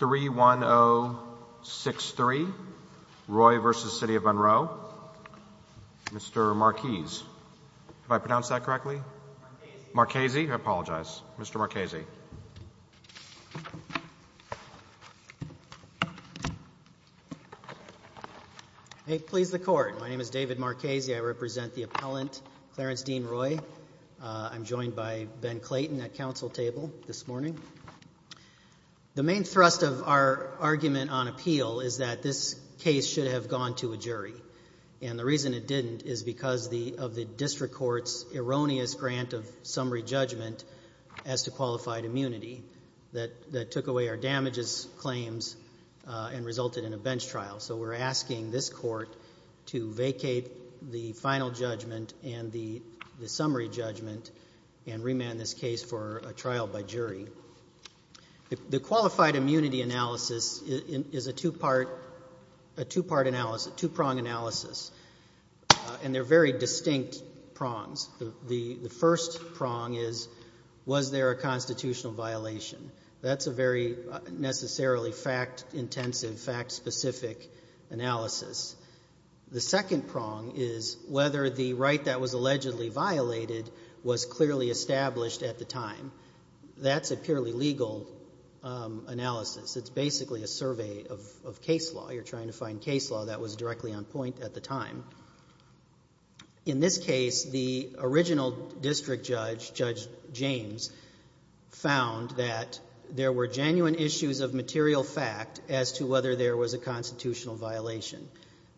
3-1-0-6-3 Roy v. City of Monroe. Mr. Marquise. Have I pronounced that correctly? Marquesi. I apologize. Mr. Marquesi. May it please the court. My name is David Marquesi. I represent the appellant Clarence Dean Roy. I'm joined by Ben Clayton at council table this morning. The main thrust of our argument on appeal is that this case should have gone to a jury and the reason it didn't is because the of the district courts erroneous grant of summary judgment as to qualified immunity that that took away our damages claims and resulted in a bench trial. So we're asking this court to vacate the final judgment and the summary judgment and remand this case for a trial by jury. The qualified immunity analysis is a two-part analysis, two-prong analysis and they're very distinct prongs. The first prong is was there a constitutional violation? That's a very necessarily fact intensive fact-specific analysis. The second prong is whether the right that was allegedly violated was clearly established at the time. That's a purely legal analysis. It's basically a survey of case law. You're trying to find case law that was directly on point at the time. In this case, the original district judge, Judge James, found that there were genuine issues of material fact as to whether there was a constitutional violation.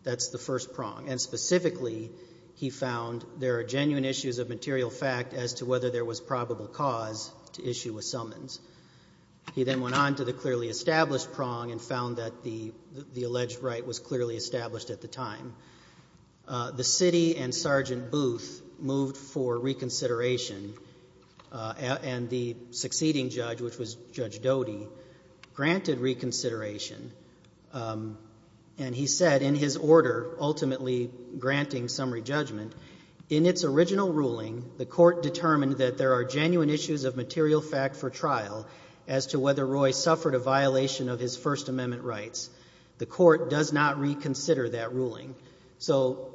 That's the first prong. And specifically he found there are genuine issues of material fact as to whether there was probable cause to issue a summons. He then went on to the clearly established prong and found that the the alleged right was clearly established at the time. The city and Sergeant Booth moved for reconsideration and the succeeding judge, which was Judge Doty, granted reconsideration and he said in his order ultimately granting summary judgment, in its original ruling, the court determined that there are genuine issues of material fact for trial as to whether Roy suffered a violation of his First Amendment rights. The court does not reconsider that ruling. So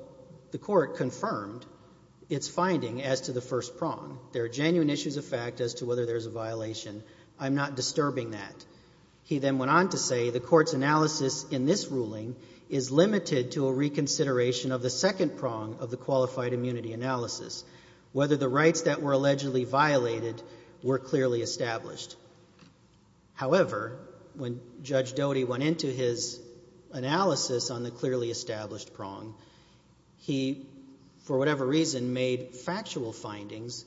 the court confirmed its finding as to the first prong. There are genuine issues of fact as to whether there's a violation. I'm not disturbing that. He then went on to say the court's analysis in this ruling is limited to a reconsideration of the second prong of the qualified immunity analysis, whether the rights that were allegedly violated were clearly established. However, when Judge Doty went into his analysis on the clearly established prong, he, for whatever reason, made factual findings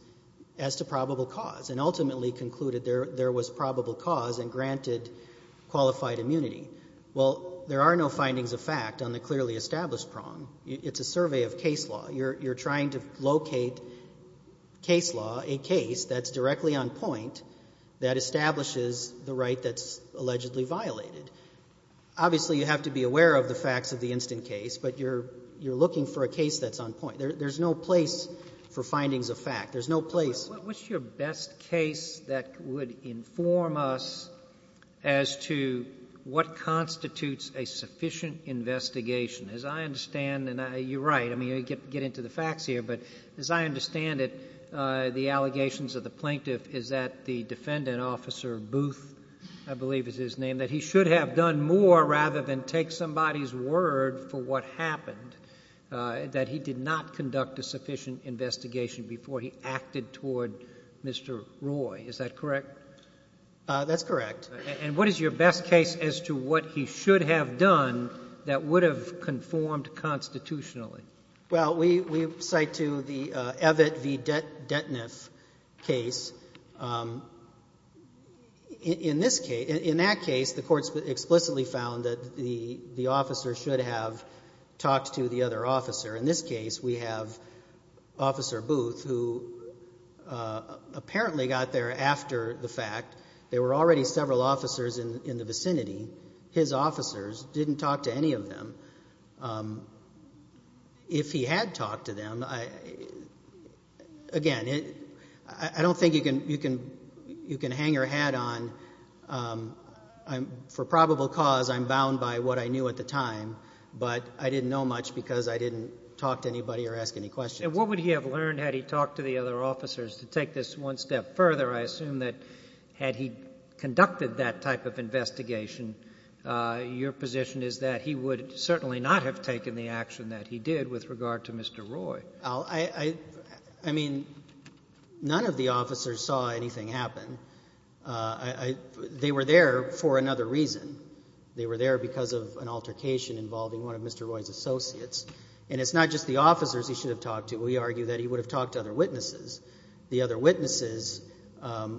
as to probable cause and ultimately concluded there was probable cause and granted qualified immunity. Well, there are no findings of fact on the clearly established prong. It's a survey of case law. You're trying to locate case law, a case that's directly on point that establishes the right that's allegedly violated. Obviously, you have to be aware of the facts of the instant case, but you're looking for a case that's on point. There's no place for findings of fact. There's no place for findings of fact. What's your best case that would inform us as to what constitutes a sufficient investigation? As I understand, and you're right, I mean, you get into the facts here, but as I understand it, the allegations of the plaintiff is that the defendant, Officer Booth, I believe is his name, that he should have done more rather than take somebody's word for what happened, that he did not conduct a crime toward Mr. Roy. Is that correct? That's correct. And what is your best case as to what he should have done that would have conformed constitutionally? Well, we cite to the Evett v. Detniff case. In this case — in that case, the Court explicitly found that the officer should have talked to the other officer. In this case, we have Officer Booth, who apparently got there after the fact. There were already several officers in the vicinity. His officers didn't talk to any of them. If he had talked to them, again, I don't think you can hang your hat on. For probable cause, I'm bound by what I knew at the time, but I didn't know much because I didn't talk to anybody or ask any questions. And what would he have learned had he talked to the other officers? To take this one step further, I assume that had he conducted that type of investigation, your position is that he would certainly not have taken the action that he did with regard to Mr. Roy. I mean, none of the officers saw anything happen. They were there for another reason. They were there because of an altercation involving one of Mr. Roy's associates. And it's not just the officers he should have talked to. We argue that he would have talked to other witnesses. The other witnesses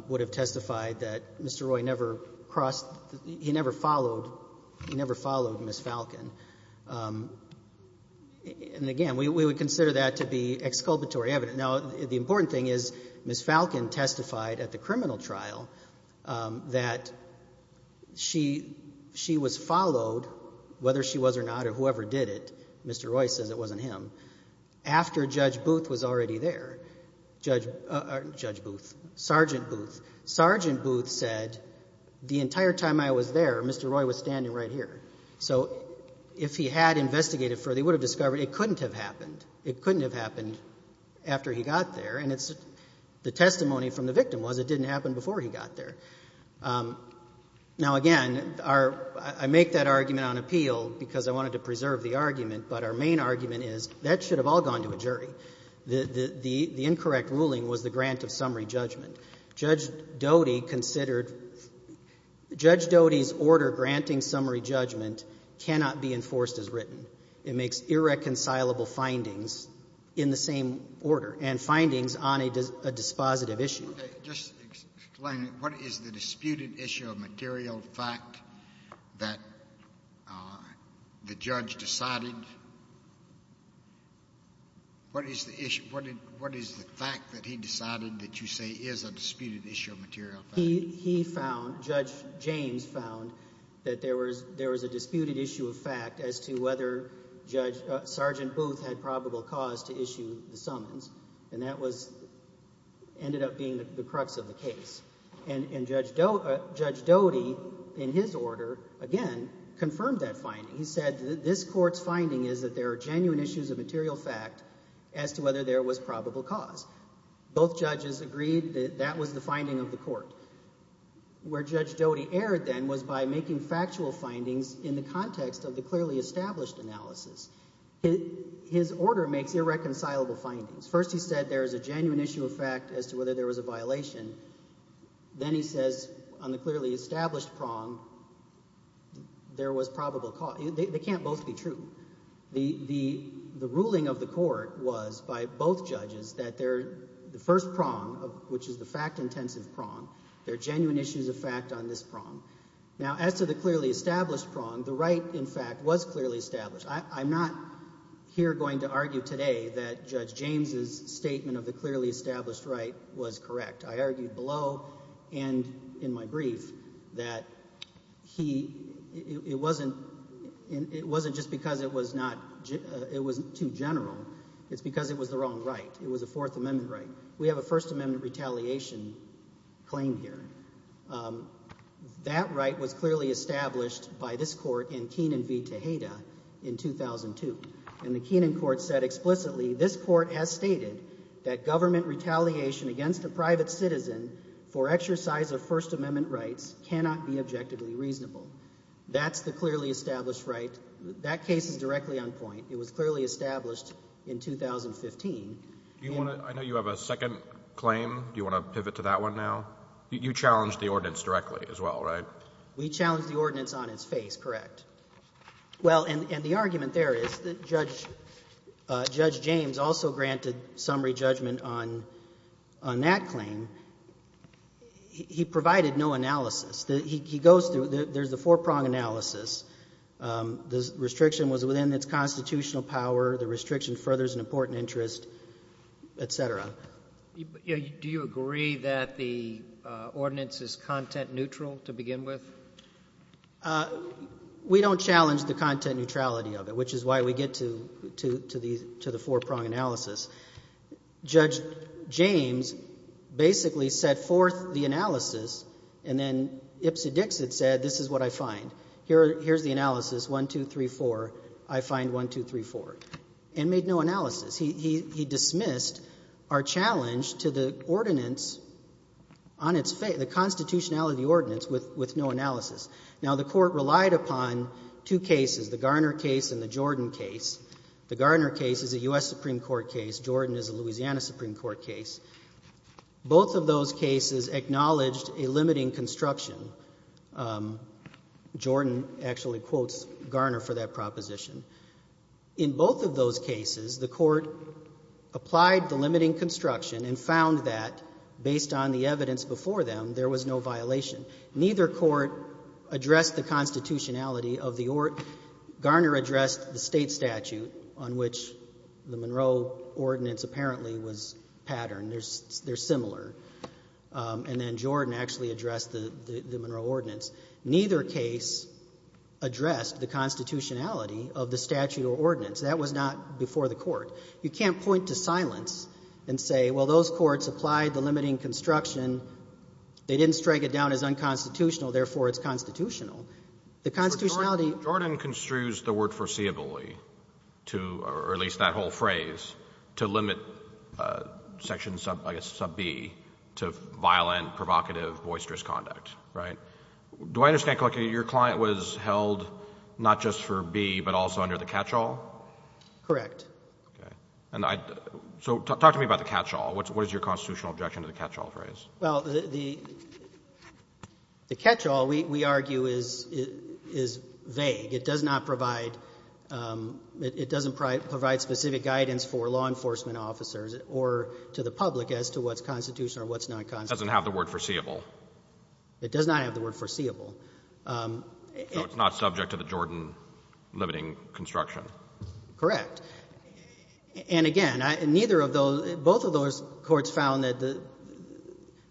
would have testified that Mr. Roy never crossed — he never followed — he never followed Ms. Falcon. And again, we would consider that to be exculpatory evidence. Now, the important thing is Ms. Falcon testified at the criminal trial that she was followed, whether she was or not or whoever did it — Mr. Roy says it wasn't him — after Judge Booth was already there. Judge Booth. Sergeant Booth. Sergeant Booth said, the entire time I was there, Mr. Roy was standing right here. So if he had investigated further, he would have discovered it couldn't have happened. It couldn't have happened after he got there. And the testimony from the victim was it didn't happen before he got there. Now, again, our — I make that argument on appeal because I wanted to preserve the argument, but our main argument is that should have all gone to a jury. The incorrect ruling was the grant of summary judgment. Judge Doty considered — Judge Doty's order granting summary judgment cannot be enforced as written. It makes irreconcilable findings in the same order, and findings on a dispositive issue. Just explain, what is the disputed issue of material fact that the judge decided? What is the issue? What is the fact that he decided that you say is a disputed issue of material fact? He found — Judge James found that there was a disputed issue of fact as to whether Judge — Sergeant Booth had probable cause to the crux of the case. And Judge Doty, in his order, again, confirmed that finding. He said that this court's finding is that there are genuine issues of material fact as to whether there was probable cause. Both judges agreed that that was the finding of the court. Where Judge Doty erred, then, was by making factual findings in the context of the clearly established analysis. His order makes irreconcilable findings. First, he said there is a genuine issue of fact as to whether there was a violation. Then he says, on the clearly established prong, there was probable cause. They can't both be true. The ruling of the court was, by both judges, that they're — the first prong, which is the fact-intensive prong, there are genuine issues of fact on this prong. Now, as to the clearly established prong, the right, in fact, was clearly established. I'm not here going to argue today that Judge James's statement of the clearly established right was correct. I argued below and in my brief that he — it wasn't — it wasn't just because it was not — it wasn't too general. It's because it was the wrong right. It was a Fourth Amendment right. We have a First Amendment retaliation claim here. That right was clearly established by this court in Kenan v. Tejeda in 2002. And the Kenan court said explicitly, this court has stated that government retaliation against a private citizen for exercise of First Amendment rights cannot be objectively reasonable. That's the clearly established right. That case is directly on point. It was clearly established in 2015. Do you want to — I know you have a second claim. Do you want to pivot to that one now? You challenged the ordinance directly as well, right? We challenged the ordinance on its face, correct. Well, and — and the argument there is that Judge — Judge James also granted summary judgment on — on that claim. He provided no analysis. He goes through — there's a four-pronged analysis. The restriction was within its constitutional power. The restriction furthers an important interest, et cetera. Do you agree that the ordinance is content neutral to begin with? We don't challenge the content neutrality of it, which is why we get to — to the — to the four-pronged analysis. Judge James basically set forth the analysis and then ipsa dixit said, this is what I find. Here — here's the analysis, 1, 2, 3, 4. I find 1, 2, 3, 4, and made no analysis. He — he — he dismissed our challenge to the ordinance on its face, the constitutionality ordinance with — with no analysis. Now, the court relied upon two cases, the Garner case and the Jordan case. The Garner case is a U.S. Supreme Court case. Jordan is a Louisiana Supreme Court case. Both of those cases acknowledged a limiting construction. Jordan actually quotes Garner for that proposition. In both of those cases, the court applied the limiting construction and found that, based on the evidence before them, there was no violation. Neither court addressed the constitutionality of the — Garner addressed the state statute on which the Monroe ordinance apparently was patterned. They're — they're similar. And then Jordan actually addressed the — the Monroe ordinance. Neither case addressed the constitutionality of the statute or ordinance. That was not before the court. You can't point to silence and say, well, those courts applied the limiting construction. They didn't strike it down as unconstitutional. Therefore, it's constitutional. The constitutionality — So Jordan construes the word foreseeability to — or at least that whole phrase to limit Section Sub — I guess Sub B to violent, provocative, boisterous conduct, right? Do I understand correctly, your client was held not just for B, but also under the catch-all? Correct. Okay. And I — so talk to me about the catch-all. What's — what is your constitutional objection to the catch-all phrase? Well, the — the catch-all, we — we argue, is — is vague. It does not provide — it doesn't provide specific guidance for law enforcement officers or to the public as to what's constitutional or what's not constitutional. It doesn't have the word foreseeable. It does not have the word foreseeable. So it's not subject to the Jordan limiting construction? Correct. And again, I — neither of those — both of those courts found that the —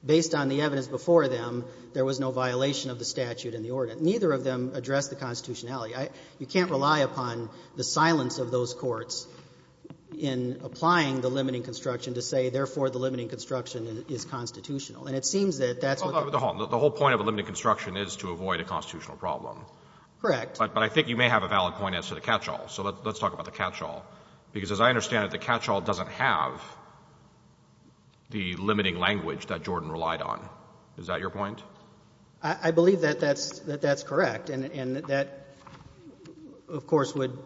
based on the evidence before them, there was no violation of the statute in the ordinance. Neither of them addressed the constitutionality. I — you can't rely upon the silence of those courts in applying the limiting construction to say, therefore, the limiting construction is constitutional. And it seems that that's what the — Hold on. Hold on. The whole point of a limiting construction is to avoid a constitutional problem. Correct. But — but I think you may have a valid point as to the catch-all. So let's talk about the catch-all. Because as I understand it, the catch-all doesn't have the limiting language that Jordan relied on. Is that your point? I believe that that's — that that's correct. And that, of course, would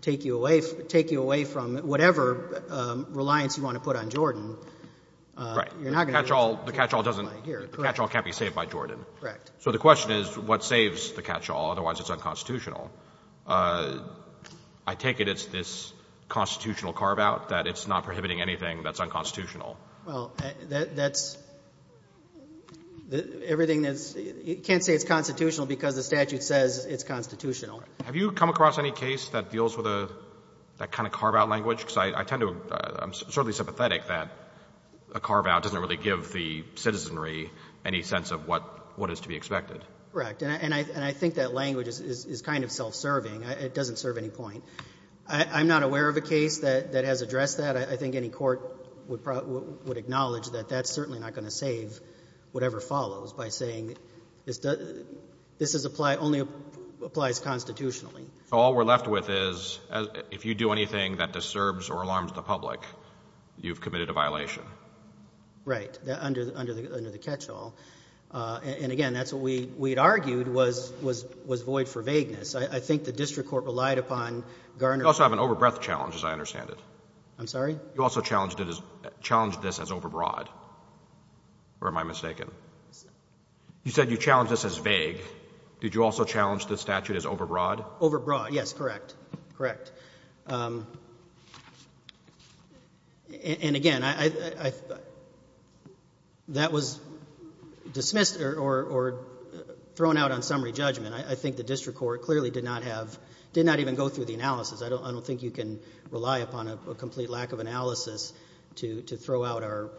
take you away — take you away from whatever reliance you want to put on Jordan. Right. You're not going to be able to comply here. The catch-all — the catch-all doesn't — the catch-all can't be saved by Jordan. Correct. So the question is, what saves the catch-all? Otherwise, it's unconstitutional. I take it it's this constitutional carve-out, that it's not prohibiting anything that's unconstitutional. Well, that's — everything that's — you can't say it's constitutional because the statute says it's constitutional. Have you come across any case that deals with a — that kind of carve-out language? Because I tend to — I'm certainly sympathetic that a carve-out doesn't really give the citizenry any sense of what — what is to be expected. Correct. And I — and I think that language is kind of self-serving. It doesn't serve any point. I'm not aware of a case that has addressed that. I think any court would acknowledge that that's certainly not going to save whatever follows by saying this is — this only applies constitutionally. So all we're left with is, if you do anything that disturbs or alarms the public, you've committed a violation. Right. Under the — under the catch-all. And, again, that's what we — we had argued was — was void for vagueness. I think the district court relied upon Garner's — You also have an over-breadth challenge, as I understand it. I'm sorry? You also challenged it as — challenged this as over-broad. Or am I mistaken? You said you challenged this as vague. Did you also challenge the statute as over-broad? Over-broad, yes, correct. Correct. And, again, I — that was dismissed or thrown out on summary judgment. I think the district court clearly did not have — did not even go through the analysis. I don't think you can rely upon a complete lack of analysis to throw out our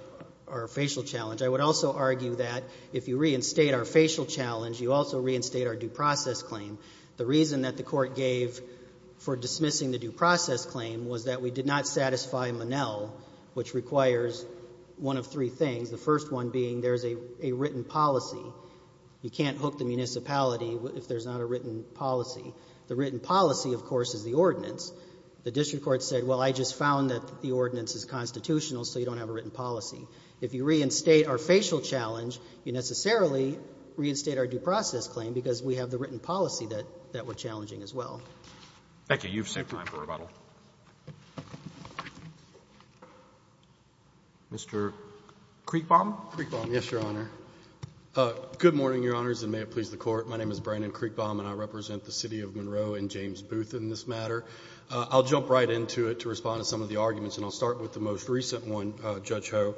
facial challenge. I would also argue that if you reinstate our facial challenge, you also reinstate our due process claim. The reason that the Court gave for dismissing the due process claim was that we did not satisfy Monell, which requires one of three things, the first one being there's a written policy. You can't hook the municipality if there's not a written policy. The written policy, of course, is the ordinance. The district court said, well, I just found that the ordinance is constitutional, so you don't have a written policy. If you reinstate our facial challenge, you necessarily reinstate our due process claim because we have the written policy that we're challenging as well. Thank you. You've saved time for rebuttal. Mr. Kriegbaum? Kriegbaum, yes, Your Honor. Good morning, Your Honors, and may it please the Court. My name is Brandon Kriegbaum, and I represent the City of Monroe and James Booth in this matter. I'll jump right into it to respond to some of the arguments, and I'll start with the most recent one, Judge Ho.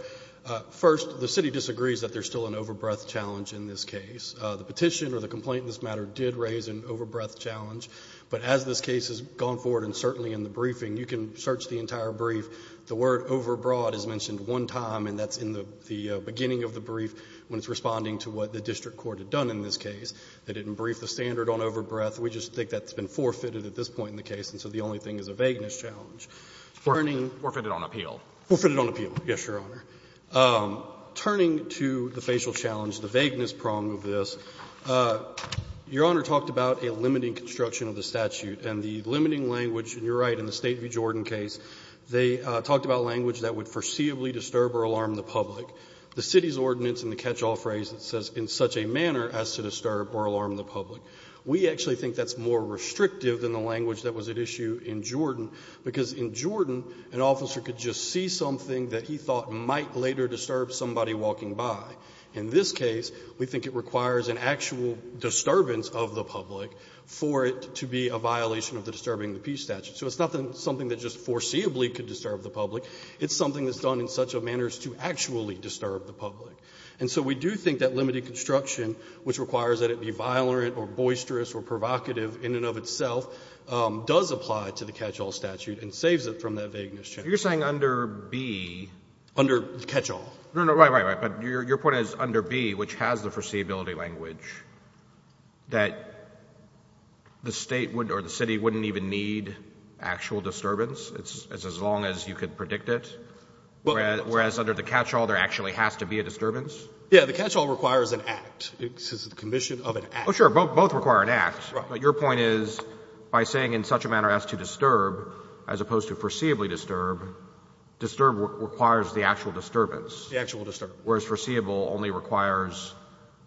First, the City disagrees that there's still an overbreadth challenge in this case. The petition or the complaint in this matter did raise an overbreadth challenge. But as this case has gone forward, and certainly in the briefing, you can search the entire brief. The word overbroad is mentioned one time, and that's in the beginning of the brief when it's responding to what the district court had done in this case. They didn't brief the standard on overbreadth. We just think that's been forfeited at this point in the case, and so the only thing is a vagueness challenge. Thank you, Justice. Your Honor talked about a limiting construction of the statute, and the limiting language, and you're right, in the State v. Jordan case, they talked about language that would foreseeably disturb or alarm the public. The City's ordinance in the catch-all phrase, it says, in such a manner as to disturb or alarm the public. We actually think that's more restrictive than the language that was at issue in Jordan, because in Jordan, an officer could just see something that he thought might later disturb somebody walking by. In this case, we think it requires an actual disturbance of the public for it to be a violation of the Disturbing the Peace statute. So it's not something that just foreseeably could disturb the public. It's something that's done in such a manner as to actually disturb the public. And so we do think that limited construction, which requires that it be violent or boisterous or provocative in and of itself, does apply to the catch-all statute and saves it from that vagueness challenge. You're saying under B? Under catch-all. No, no. Right, right, right. But your point is under B, which has the foreseeability language, that the State would or the City wouldn't even need actual disturbance as long as you could predict it, whereas under the catch-all, there actually has to be a disturbance? Yeah. The catch-all requires an act. It's a condition of an act. Oh, sure. Both require an act. Right. But your point is by saying in such a manner as to disturb, as opposed to foreseeably disturb, disturb requires the actual disturbance. The actual disturbance. Whereas foreseeable only requires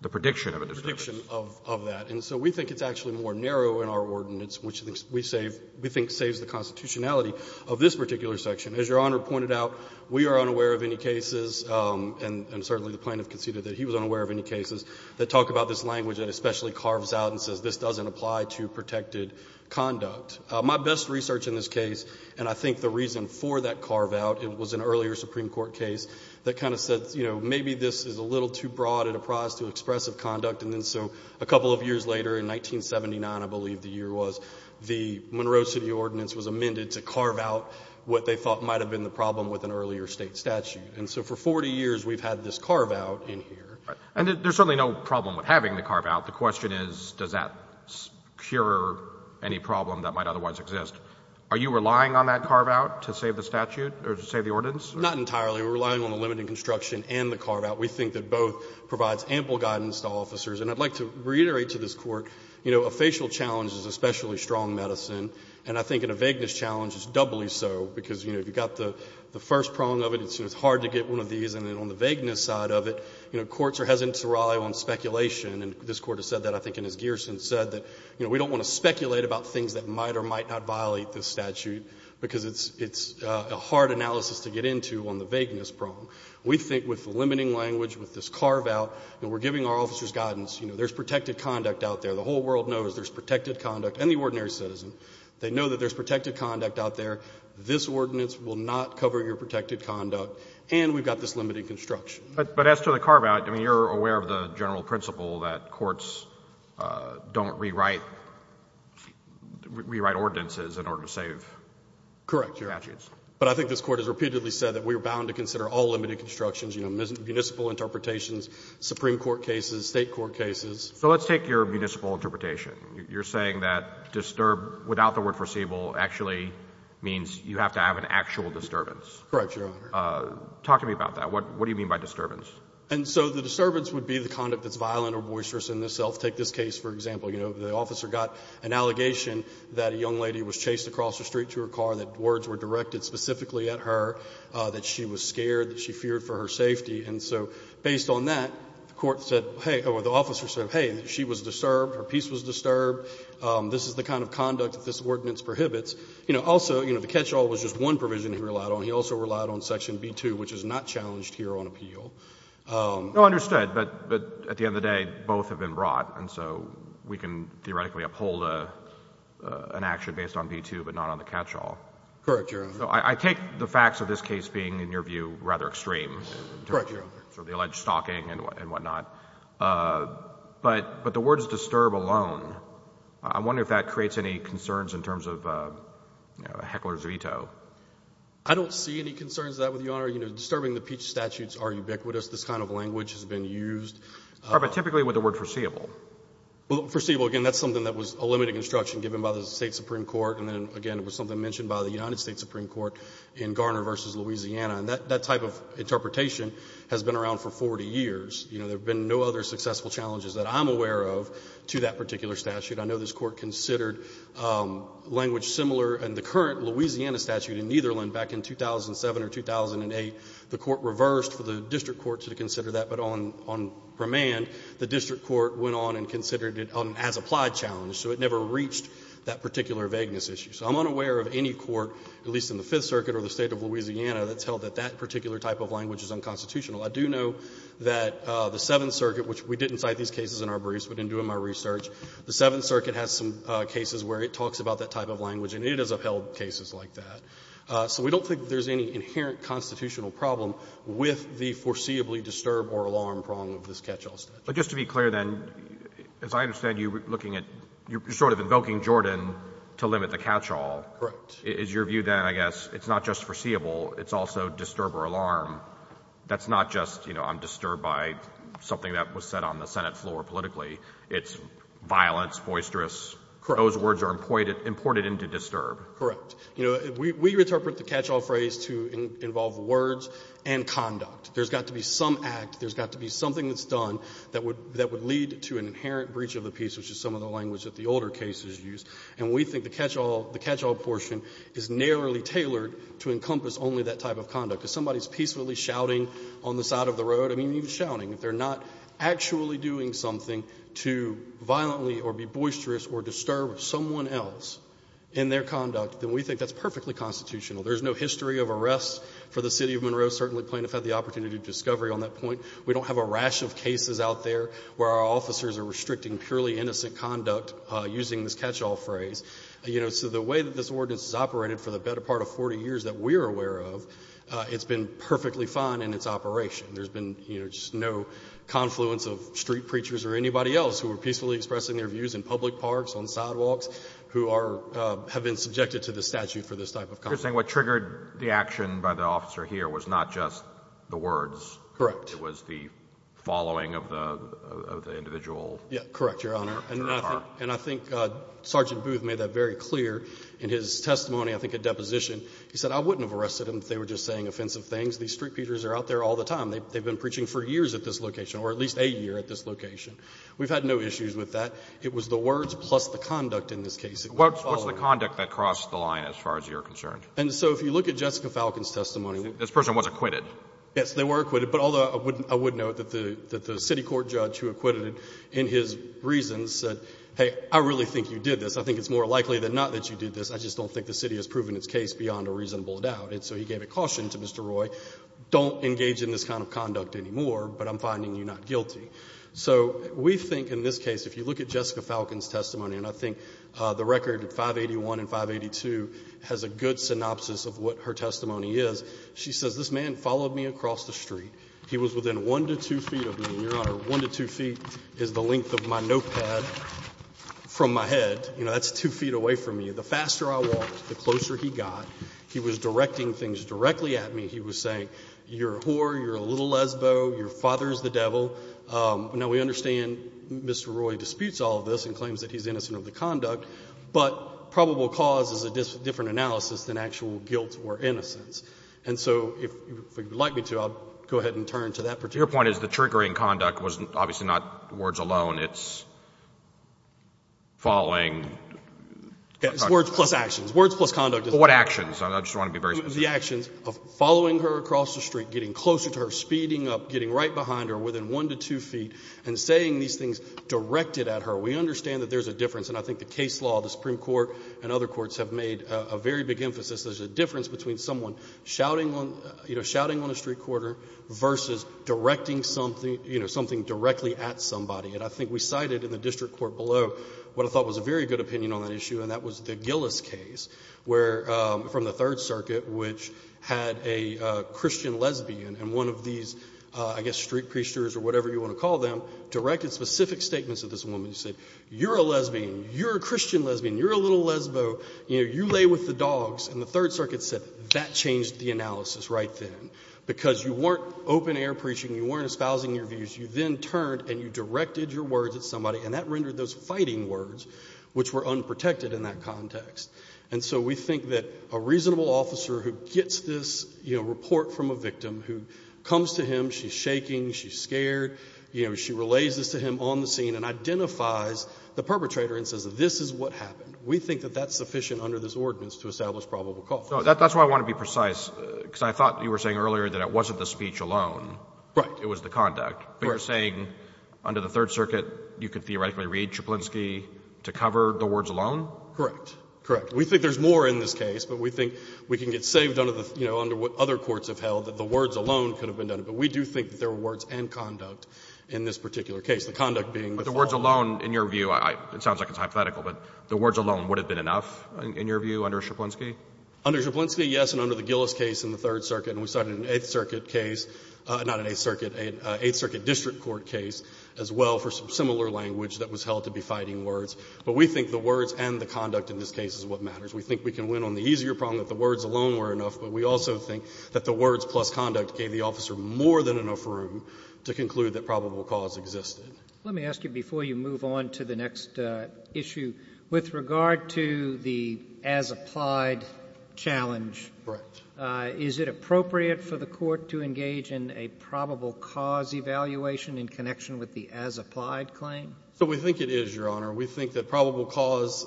the prediction of a disturbance. The prediction of that. And so we think it's actually more narrow in our ordinance, which we think saves the constitutionality of this particular section. As Your Honor pointed out, we are unaware of any cases, and certainly the plaintiff conceded that he was unaware of any cases, that talk about this language that especially carves out and says this doesn't apply to protected conduct. My best research in this case, and I think the reason for that carve-out, it was an earlier Supreme Court case that kind of said, you know, maybe this is a little too broad and apprised to expressive conduct, and then so a couple of years later, in 1979, I believe the year was, the Monroe City Ordinance was amended to carve out what they thought might have been the problem with an earlier state statute. And so for 40 years, we've had this carve-out in here. And there's certainly no problem with having the carve-out. The question is, does that cure any problem that might otherwise exist? Are you relying on that carve-out to save the statute or to save the ordinance? Not entirely. We're relying on the limiting construction and the carve-out. We think that both provides ample guidance to officers. And I'd like to reiterate to this Court, you know, a facial challenge is especially strong medicine, and I think in a vagueness challenge, it's doubly so, because, you know, if you've got the first prong of it, it's hard to get one of these, and then on the vagueness side of it, you know, courts are hesitant to rely on speculation. And this Court has said that, I think, and as Gearson said, that, you know, we don't want to speculate about things that might or might not violate this statute, because it's a hard analysis to get into on the vagueness prong. We think with the limiting language, with this carve-out, and we're giving our officers guidance, you know, there's protected conduct out there. The whole world knows there's protected conduct, and the ordinary citizen. They know that there's protected conduct out there. This ordinance will not cover your protected conduct. And we've got this limiting construction. But as to the carve-out, I mean, you're aware of the general principle that courts don't rewrite ordinances in order to save statutes. Correct, Your Honor. But I think this Court has repeatedly said that we are bound to consider all limited constructions, you know, municipal interpretations, Supreme Court cases, State Court cases. So let's take your municipal interpretation. You're saying that disturb, without the word foreseeable, actually means you have to have an actual disturbance. Correct, Your Honor. Talk to me about that. What do you mean by disturbance? And so the disturbance would be the conduct that's violent or boisterous in itself. Take this case, for example. You know, the officer got an allegation that a young lady was chased across the street to her car, that words were directed specifically at her, that she was scared, that she feared for her safety. And so based on that, the court said, hey, or the officer said, hey, she was disturbed, her peace was disturbed. This is the kind of conduct that this ordinance prohibits. You know, also, you know, the catch-all was just one provision he relied on. He also relied on section B-2, which is not challenged here on appeal. No, understood. But at the end of the day, both have been brought. And so we can theoretically uphold an action based on B-2 but not on the catch-all. Correct, Your Honor. So I take the facts of this case being, in your view, rather extreme. Correct, Your Honor. So the alleged stalking and whatnot. But the words disturb alone, I wonder if that creates any concerns in terms of heckler's veto. I don't see any concerns of that with you, Your Honor. You know, disturbing the Peach statutes are ubiquitous. This kind of language has been used. But typically with the word foreseeable. Well, foreseeable, again, that's something that was a limited construction given by the State Supreme Court. And then, again, it was something mentioned by the United States Supreme Court in Garner v. Louisiana. And that type of interpretation has been around for 40 years. You know, there have been no other successful challenges that I'm aware of to that particular statute. I know this Court considered language similar in the current Louisiana statute in either one back in 2007 or 2008. The Court reversed for the district court to consider that. But on remand, the district court went on and considered it as applied challenge. So it never reached that particular vagueness issue. So I'm unaware of any court, at least in the Fifth Circuit or the State of Louisiana, that's held that that particular type of language is unconstitutional. I do know that the Seventh Circuit, which we didn't cite these cases in our briefs, but in doing my research, the Seventh Circuit has some cases where it talks about that type of language. And it has upheld cases like that. So we don't think there's any inherent constitutional problem with the foreseeably disturb or alarm prong of this catch-all statute. But just to be clear, then, as I understand, you're looking at you're sort of invoking Jordan to limit the catch-all. Correct. Is your view, then, I guess, it's not just foreseeable, it's also disturb or alarm. That's not just, you know, I'm disturbed by something that was said on the Senate floor politically. It's violence, boisterous. Correct. And those words are imported into disturb. Correct. You know, we interpret the catch-all phrase to involve words and conduct. There's got to be some act, there's got to be something that's done that would lead to an inherent breach of the peace, which is some of the language that the older cases use. And we think the catch-all portion is narrowly tailored to encompass only that type of conduct. If somebody is peacefully shouting on the side of the road, I mean, even shouting. If they're not actually doing something to violently or be boisterous or disturb someone else in their conduct, then we think that's perfectly constitutional. There's no history of arrests for the city of Monroe. Certainly plaintiffs had the opportunity to discovery on that point. We don't have a rash of cases out there where our officers are restricting purely innocent conduct using this catch-all phrase. You know, so the way that this ordinance is operated for the better part of 40 years that we're aware of, it's been perfectly fine in its operation. There's been, you know, just no confluence of street preachers or anybody else who were peacefully expressing their views in public parks, on sidewalks, who are, have been subjected to the statute for this type of conduct. What triggered the action by the officer here was not just the words. Correct. It was the following of the individual. Correct, Your Honor. And I think Sergeant Booth made that very clear in his testimony, I think a deposition. He said, I wouldn't have arrested him if they were just saying offensive things. These street preachers are out there all the time. They've been preaching for years at this location or at least a year at this location. We've had no issues with that. It was the words plus the conduct in this case. What's the conduct that crossed the line as far as you're concerned? And so if you look at Jessica Falcon's testimony. This person was acquitted. Yes, they were acquitted. But although I would note that the city court judge who acquitted him in his reasons said, hey, I really think you did this. I think it's more likely than not that you did this. I just don't think the city has proven its case beyond a reasonable doubt. And so he gave a caution to Mr. Roy, don't engage in this kind of conduct anymore, but I'm finding you not guilty. So we think in this case, if you look at Jessica Falcon's testimony, and I think the record at 581 and 582 has a good synopsis of what her testimony is. She says, this man followed me across the street. He was within one to two feet of me. Your Honor, one to two feet is the length of my notepad from my head. You know, that's two feet away from me. The faster I walked, the closer he got. He was directing things directly at me. He was saying, you're a whore. You're a little lesbo. Your father's the devil. Now, we understand Mr. Roy disputes all of this and claims that he's innocent of the conduct, but probable cause is a different analysis than actual guilt or innocence. And so if you would like me to, I'll go ahead and turn to that particular case. Your point is the triggering conduct was obviously not words alone. It's following. It's words plus actions. Words plus conduct. What actions? I just want to be very specific. The actions of following her across the street, getting closer to her, speeding up, getting right behind her within one to two feet, and saying these things directed at her. We understand that there's a difference, and I think the case law, the Supreme Court and other courts have made a very big emphasis. There's a difference between someone shouting on a street corner versus directing something directly at somebody. And I think we cited in the district court below what I thought was a very good opinion on that issue, and that was the Gillis case, where from the Third Circuit, which had a Christian lesbian, and one of these, I guess, street preachers or whatever you want to call them, directed specific statements to this woman. He said, you're a lesbian. You're a Christian lesbian. You're a little lesbo. You know, you lay with the dogs. And the Third Circuit said that changed the analysis right then, because you weren't open air preaching. You weren't espousing your views. You then turned and you directed your words at somebody, and that rendered those fighting words, which were unprotected in that context. And so we think that a reasonable officer who gets this, you know, report from a victim, who comes to him, she's shaking, she's scared, you know, she relays this to him on the scene and identifies the perpetrator and says, this is what happened. We think that that's sufficient under this ordinance to establish probable cause. No, that's why I want to be precise, because I thought you were saying earlier that it wasn't the speech alone. Right. It was the conduct. But you're saying under the Third Circuit, you could theoretically read Szaplinski to cover the words alone? Correct. Correct. We think there's more in this case, but we think we can get saved under the, you know, under what other courts have held, that the words alone could have been done. But we do think that there were words and conduct in this particular case, the conduct being the following. But the words alone, in your view, it sounds like it's hypothetical, but the words alone would have been enough, in your view, under Szaplinski? Under Szaplinski, yes, and under the Gillis case in the Third Circuit, and we started an Eighth Circuit case, not an Eighth Circuit, an Eighth Circuit district court case as well for some similar language that was held to be fighting words. But we think the words and the conduct in this case is what matters. We think we can win on the easier problem that the words alone were enough, but we also think that the words plus conduct gave the officer more than enough room to conclude that probable cause existed. Let me ask you before you move on to the next issue, with regard to the as-applied challenge. Correct. Is it appropriate for the Court to engage in a probable cause evaluation in connection with the as-applied claim? So we think it is, Your Honor. We think that probable cause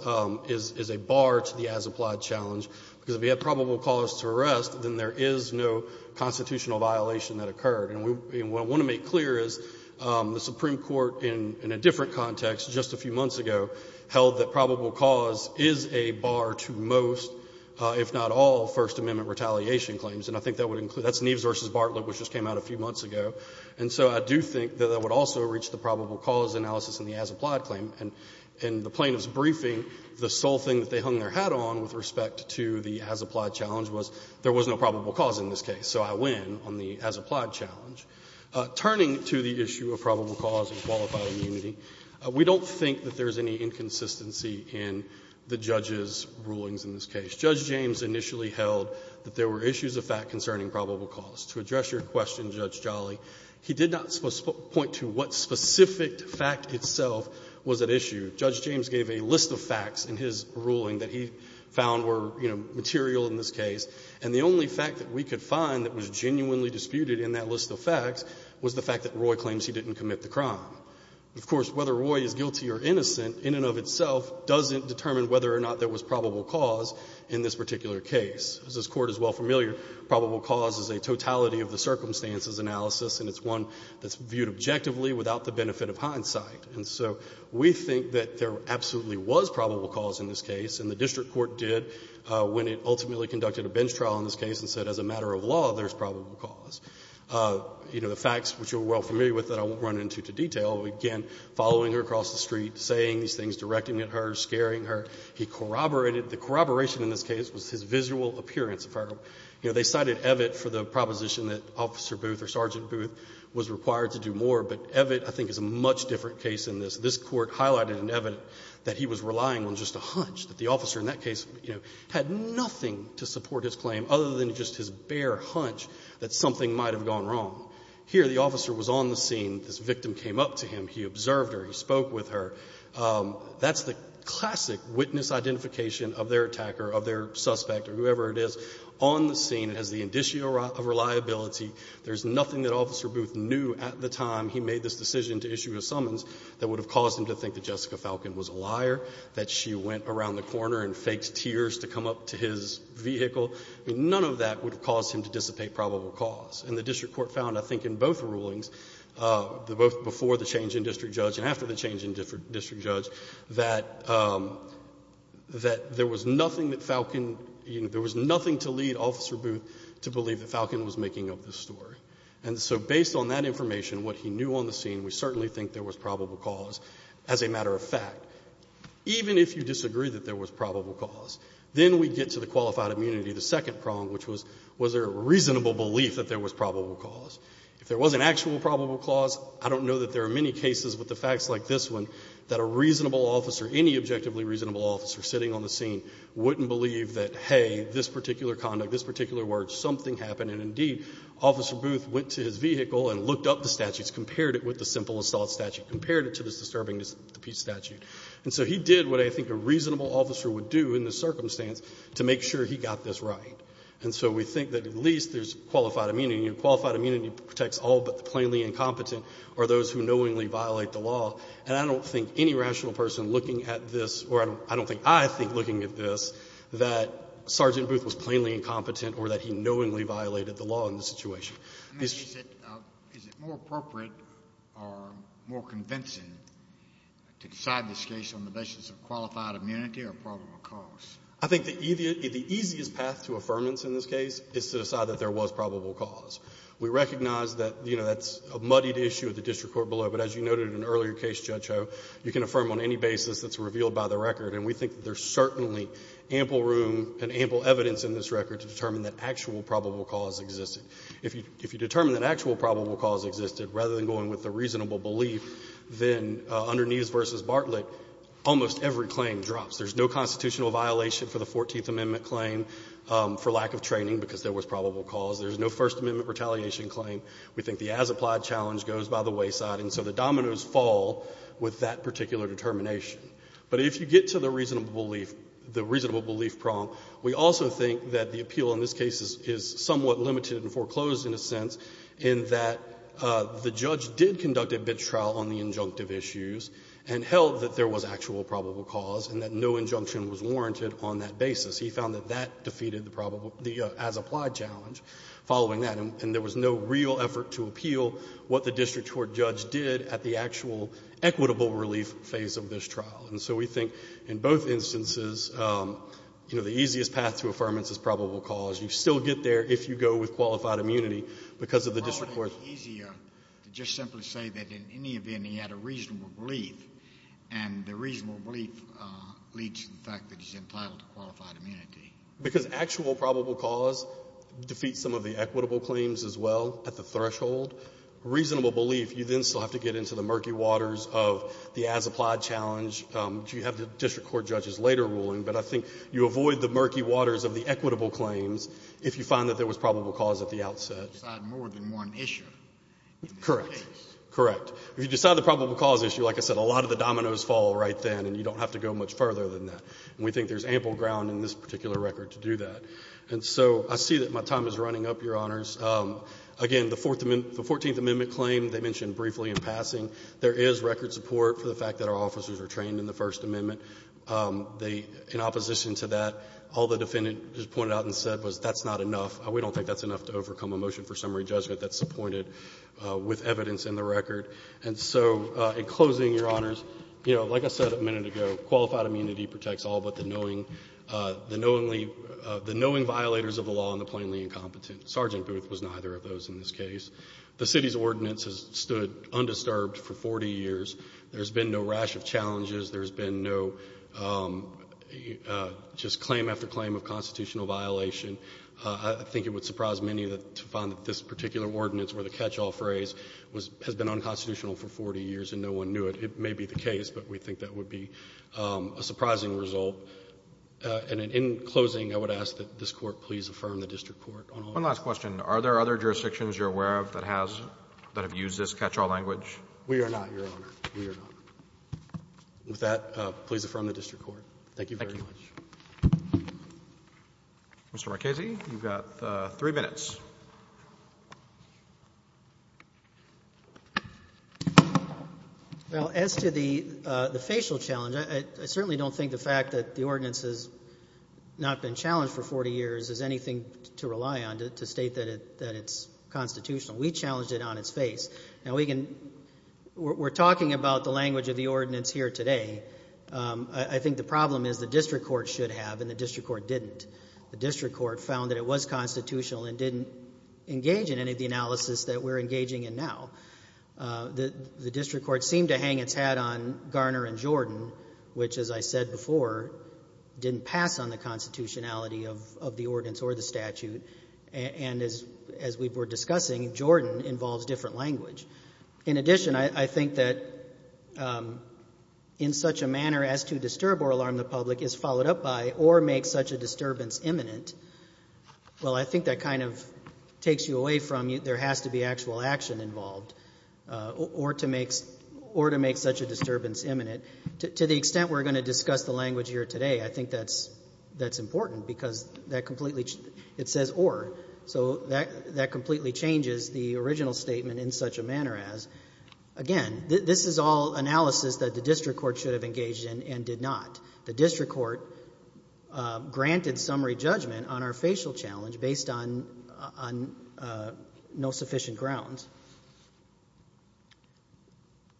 is a bar to the as-applied challenge, because if you have probable cause to arrest, then there is no constitutional violation that occurred. And what I want to make clear is the Supreme Court, in a different context just a few months ago, held that probable cause is a bar to most, if not all, First Amendment retaliation claims. And I think that would include Neves v. Bartlett, which just came out a few months ago. And so I do think that that would also reach the probable cause analysis in the as-applied claim. And in the plaintiff's briefing, the sole thing that they hung their hat on with respect to the as-applied challenge was there was no probable cause in this case, so I win on the as-applied challenge. Turning to the issue of probable cause and qualified immunity, we don't think that there is any inconsistency in the judge's rulings in this case. Judge James initially held that there were issues of fact concerning probable cause. To address your question, Judge Jolly, he did not point to what specific fact itself was at issue. Judge James gave a list of facts in his ruling that he found were, you know, material in this case. And the only fact that we could find that was genuinely disputed in that list of facts was the fact that Roy claims he didn't commit the crime. Of course, whether Roy is guilty or innocent in and of itself doesn't determine whether or not there was probable cause in this particular case. As this Court is well familiar, probable cause is a totality of the circumstances analysis, and it's one that's viewed objectively without the benefit of hindsight. And so we think that there absolutely was probable cause in this case, and the district court did when it ultimately conducted a bench trial in this case and said, as a matter of law, there's probable cause. You know, the facts, which you're well familiar with, that I won't run into detail, again, following her across the street, saying these things, directing at her, scaring her. He corroborated, the corroboration in this case was his visual appearance of her. You know, they cited Evett for the proposition that Officer Booth or Sergeant Booth was required to do more, but Evett, I think, is a much different case than this. This Court highlighted in Evett that he was relying on just a hunch, that the officer in that case, you know, had nothing to support his claim other than just his bare hunch that something might have gone wrong. Here, the officer was on the scene. This victim came up to him. He observed her. He spoke with her. That's the classic witness identification of their attacker, of their suspect, or whoever it is, on the scene. It has the indicia of reliability. There's nothing that Officer Booth knew at the time he made this decision to issue a summons that would have caused him to think that Jessica Falcon was a liar, that she went around the corner and faked tears to come up to his vehicle. None of that would have caused him to dissipate probable cause. And the district court found, I think, in both rulings, both before the change in district judge and after the change in district judge, that there was nothing that Falcon, you know, there was nothing to lead Officer Booth to believe that Falcon was making up this story. And so based on that information, what he knew on the scene, we certainly think there was probable cause. As a matter of fact, even if you disagree that there was probable cause, then we get to the qualified immunity, the second prong, which was, was there a reasonable belief that there was probable cause? If there was an actual probable cause, I don't know that there are many cases with the facts like this one that a reasonable officer, any objectively reasonable officer sitting on the scene wouldn't believe that, hey, this particular conduct, this particular word, something happened, and indeed, Officer Booth went to his vehicle and looked up the statutes, compared it with the simple assault statute, compared it to this disturbing the peace statute. And so he did what I think a reasonable officer would do in this circumstance to make sure he got this right. And so we think that at least there's qualified immunity. Qualified immunity protects all but the plainly incompetent or those who knowingly violate the law. And I don't think any rational person looking at this, or I don't think I think looking at this, that Sergeant Booth was plainly incompetent or that he knowingly violated the law in this situation. I mean, is it more appropriate or more convincing to decide this case on the basis of qualified immunity or probable cause? I think the easiest path to affirmance in this case is to decide that there was probable cause. We recognize that that's a muddied issue at the district court below, but as you noted in an earlier case, Judge Ho, you can affirm on any basis that's revealed by the record, and we think that there's certainly ample room and ample evidence in this record to determine that actual probable cause existed. If you determine that actual probable cause existed, rather than going with the reasonable belief, then underneath versus Bartlett, almost every claim drops. There's no constitutional violation for the Fourteenth Amendment claim for lack of training because there was probable cause. There's no First Amendment retaliation claim. We think the as-applied challenge goes by the wayside, and so the dominoes fall with that particular determination. But if you get to the reasonable belief, the reasonable belief prong, we also think that the appeal in this case is somewhat limited and foreclosed in a sense in that the judge did conduct a bidtrial on the injunctive issues and held that there was actual probable cause and that no injunction was warranted on that basis. He found that that defeated the probable as-applied challenge following that, and there was no real effort to appeal what the district court judge did at the actual equitable relief phase of this trial. And so we think in both instances, you know, the easiest path to affirmance is probable cause. You still get there if you go with qualified immunity because of the district court's ---- Scalia. Well, wouldn't it be easier to just simply say that in any event he had a reasonable belief, and the reasonable belief leads to the fact that he's entitled to qualified immunity? McAllister. Because actual probable cause defeats some of the equitable claims as well at the Reasonable belief, you then still have to get into the murky waters of the as-applied challenge, which you have the district court judges later ruling, but I think you avoid the murky waters of the equitable claims if you find that there was probable cause at the outset. If you decide more than one issue in this case. Correct. Correct. If you decide the probable cause issue, like I said, a lot of the dominoes fall right then, and you don't have to go much further than that. And we think there's ample ground in this particular record to do that. And so I see that my time is running up, Your Honors. Again, the 14th Amendment claim, they mentioned briefly in passing, there is record of support for the fact that our officers are trained in the First Amendment. They, in opposition to that, all the defendant just pointed out and said was, that's not enough. We don't think that's enough to overcome a motion for summary judgment that's appointed with evidence in the record. And so, in closing, Your Honors, you know, like I said a minute ago, qualified immunity protects all but the knowing, the knowingly, the knowing violators of the law and the plainly incompetent. Sergeant Booth was neither of those in this case. The city's ordinance has stood undisturbed for 40 years. There's been no rash of challenges. There's been no just claim after claim of constitutional violation. I think it would surprise many to find that this particular ordinance, where the catch-all phrase has been unconstitutional for 40 years and no one knew it. It may be the case, but we think that would be a surprising result. And in closing, I would ask that this Court please affirm the district court on all. One last question. Are there other jurisdictions you're aware of that have used this catch-all language? We are not, Your Honor. We are not. With that, please affirm the district court. Thank you very much. Thank you. Mr. Marchese, you've got three minutes. Well, as to the facial challenge, I certainly don't think the fact that the ordinance has not been challenged for 40 years is anything to rely on to state that it's constitutional. We challenged it on its face. Now, we're talking about the language of the ordinance here today. I think the problem is the district court should have and the district court didn't. The district court found that it was constitutional and didn't engage in any of the analysis that we're engaging in now. The district court seemed to hang its hat on Garner and Jordan, which, as I said before, didn't pass on the constitutionality of the ordinance or the statute. And as we were discussing, Jordan involves different language. In addition, I think that in such a manner as to disturb or alarm the public is followed up by or make such a disturbance imminent, well, I think that kind of takes you away from there has to be actual action involved or to make such a disturbance imminent. To the extent we're going to discuss the language here today, I think that's important because it says or. So that completely changes the original statement in such a manner as, again, this is all analysis that the district court should have engaged in and did not. The district court granted summary judgment on our facial challenge based on no sufficient grounds.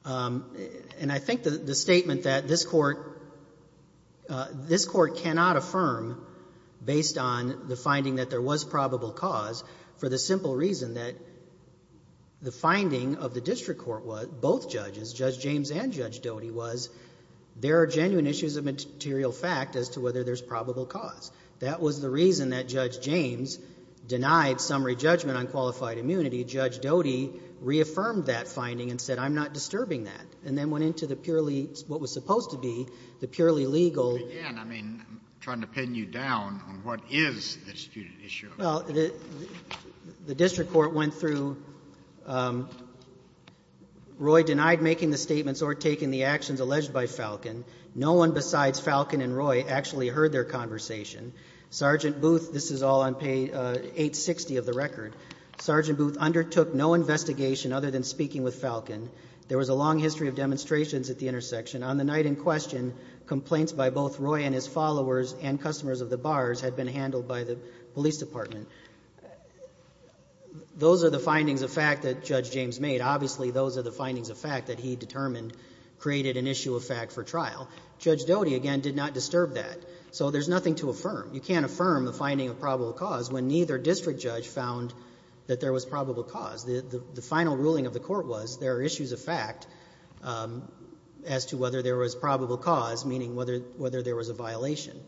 And I think the statement that this court, this court cannot affirm based on the finding that there was probable cause for the simple reason that the finding of the district court was, both judges, Judge James and Judge Doty was, there are genuine issues of material fact as to whether there's probable cause. That was the reason that Judge James denied summary judgment on qualified immunity. Judge Doty reaffirmed that finding and said, I'm not disturbing that. And then went into the purely, what was supposed to be the purely legal. Again, I mean, I'm trying to pin you down on what is the disputed issue. Well, the district court went through, Roy denied making the statements or taking the actions alleged by Falcon. No one besides Falcon and Roy actually heard their conversation. Sergeant Booth, this is all on page 860 of the record. Sergeant Booth undertook no investigation other than speaking with Falcon. There was a long history of demonstrations at the intersection. On the night in question, complaints by both Roy and his followers and customers of the bars had been handled by the police department. Those are the findings of fact that Judge James made. Obviously, those are the findings of fact that he determined created an issue of fact for trial. Judge Doty, again, did not disturb that. So there's nothing to affirm. You can't affirm the finding of probable cause when neither district judge found that there was probable cause. The final ruling of the court was there are issues of fact as to whether there was probable cause, meaning whether there was a violation.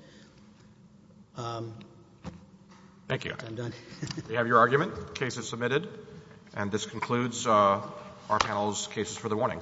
Thank you. I'm done. We have your argument. The case is submitted. And this concludes our panel's cases for the morning. Thank you.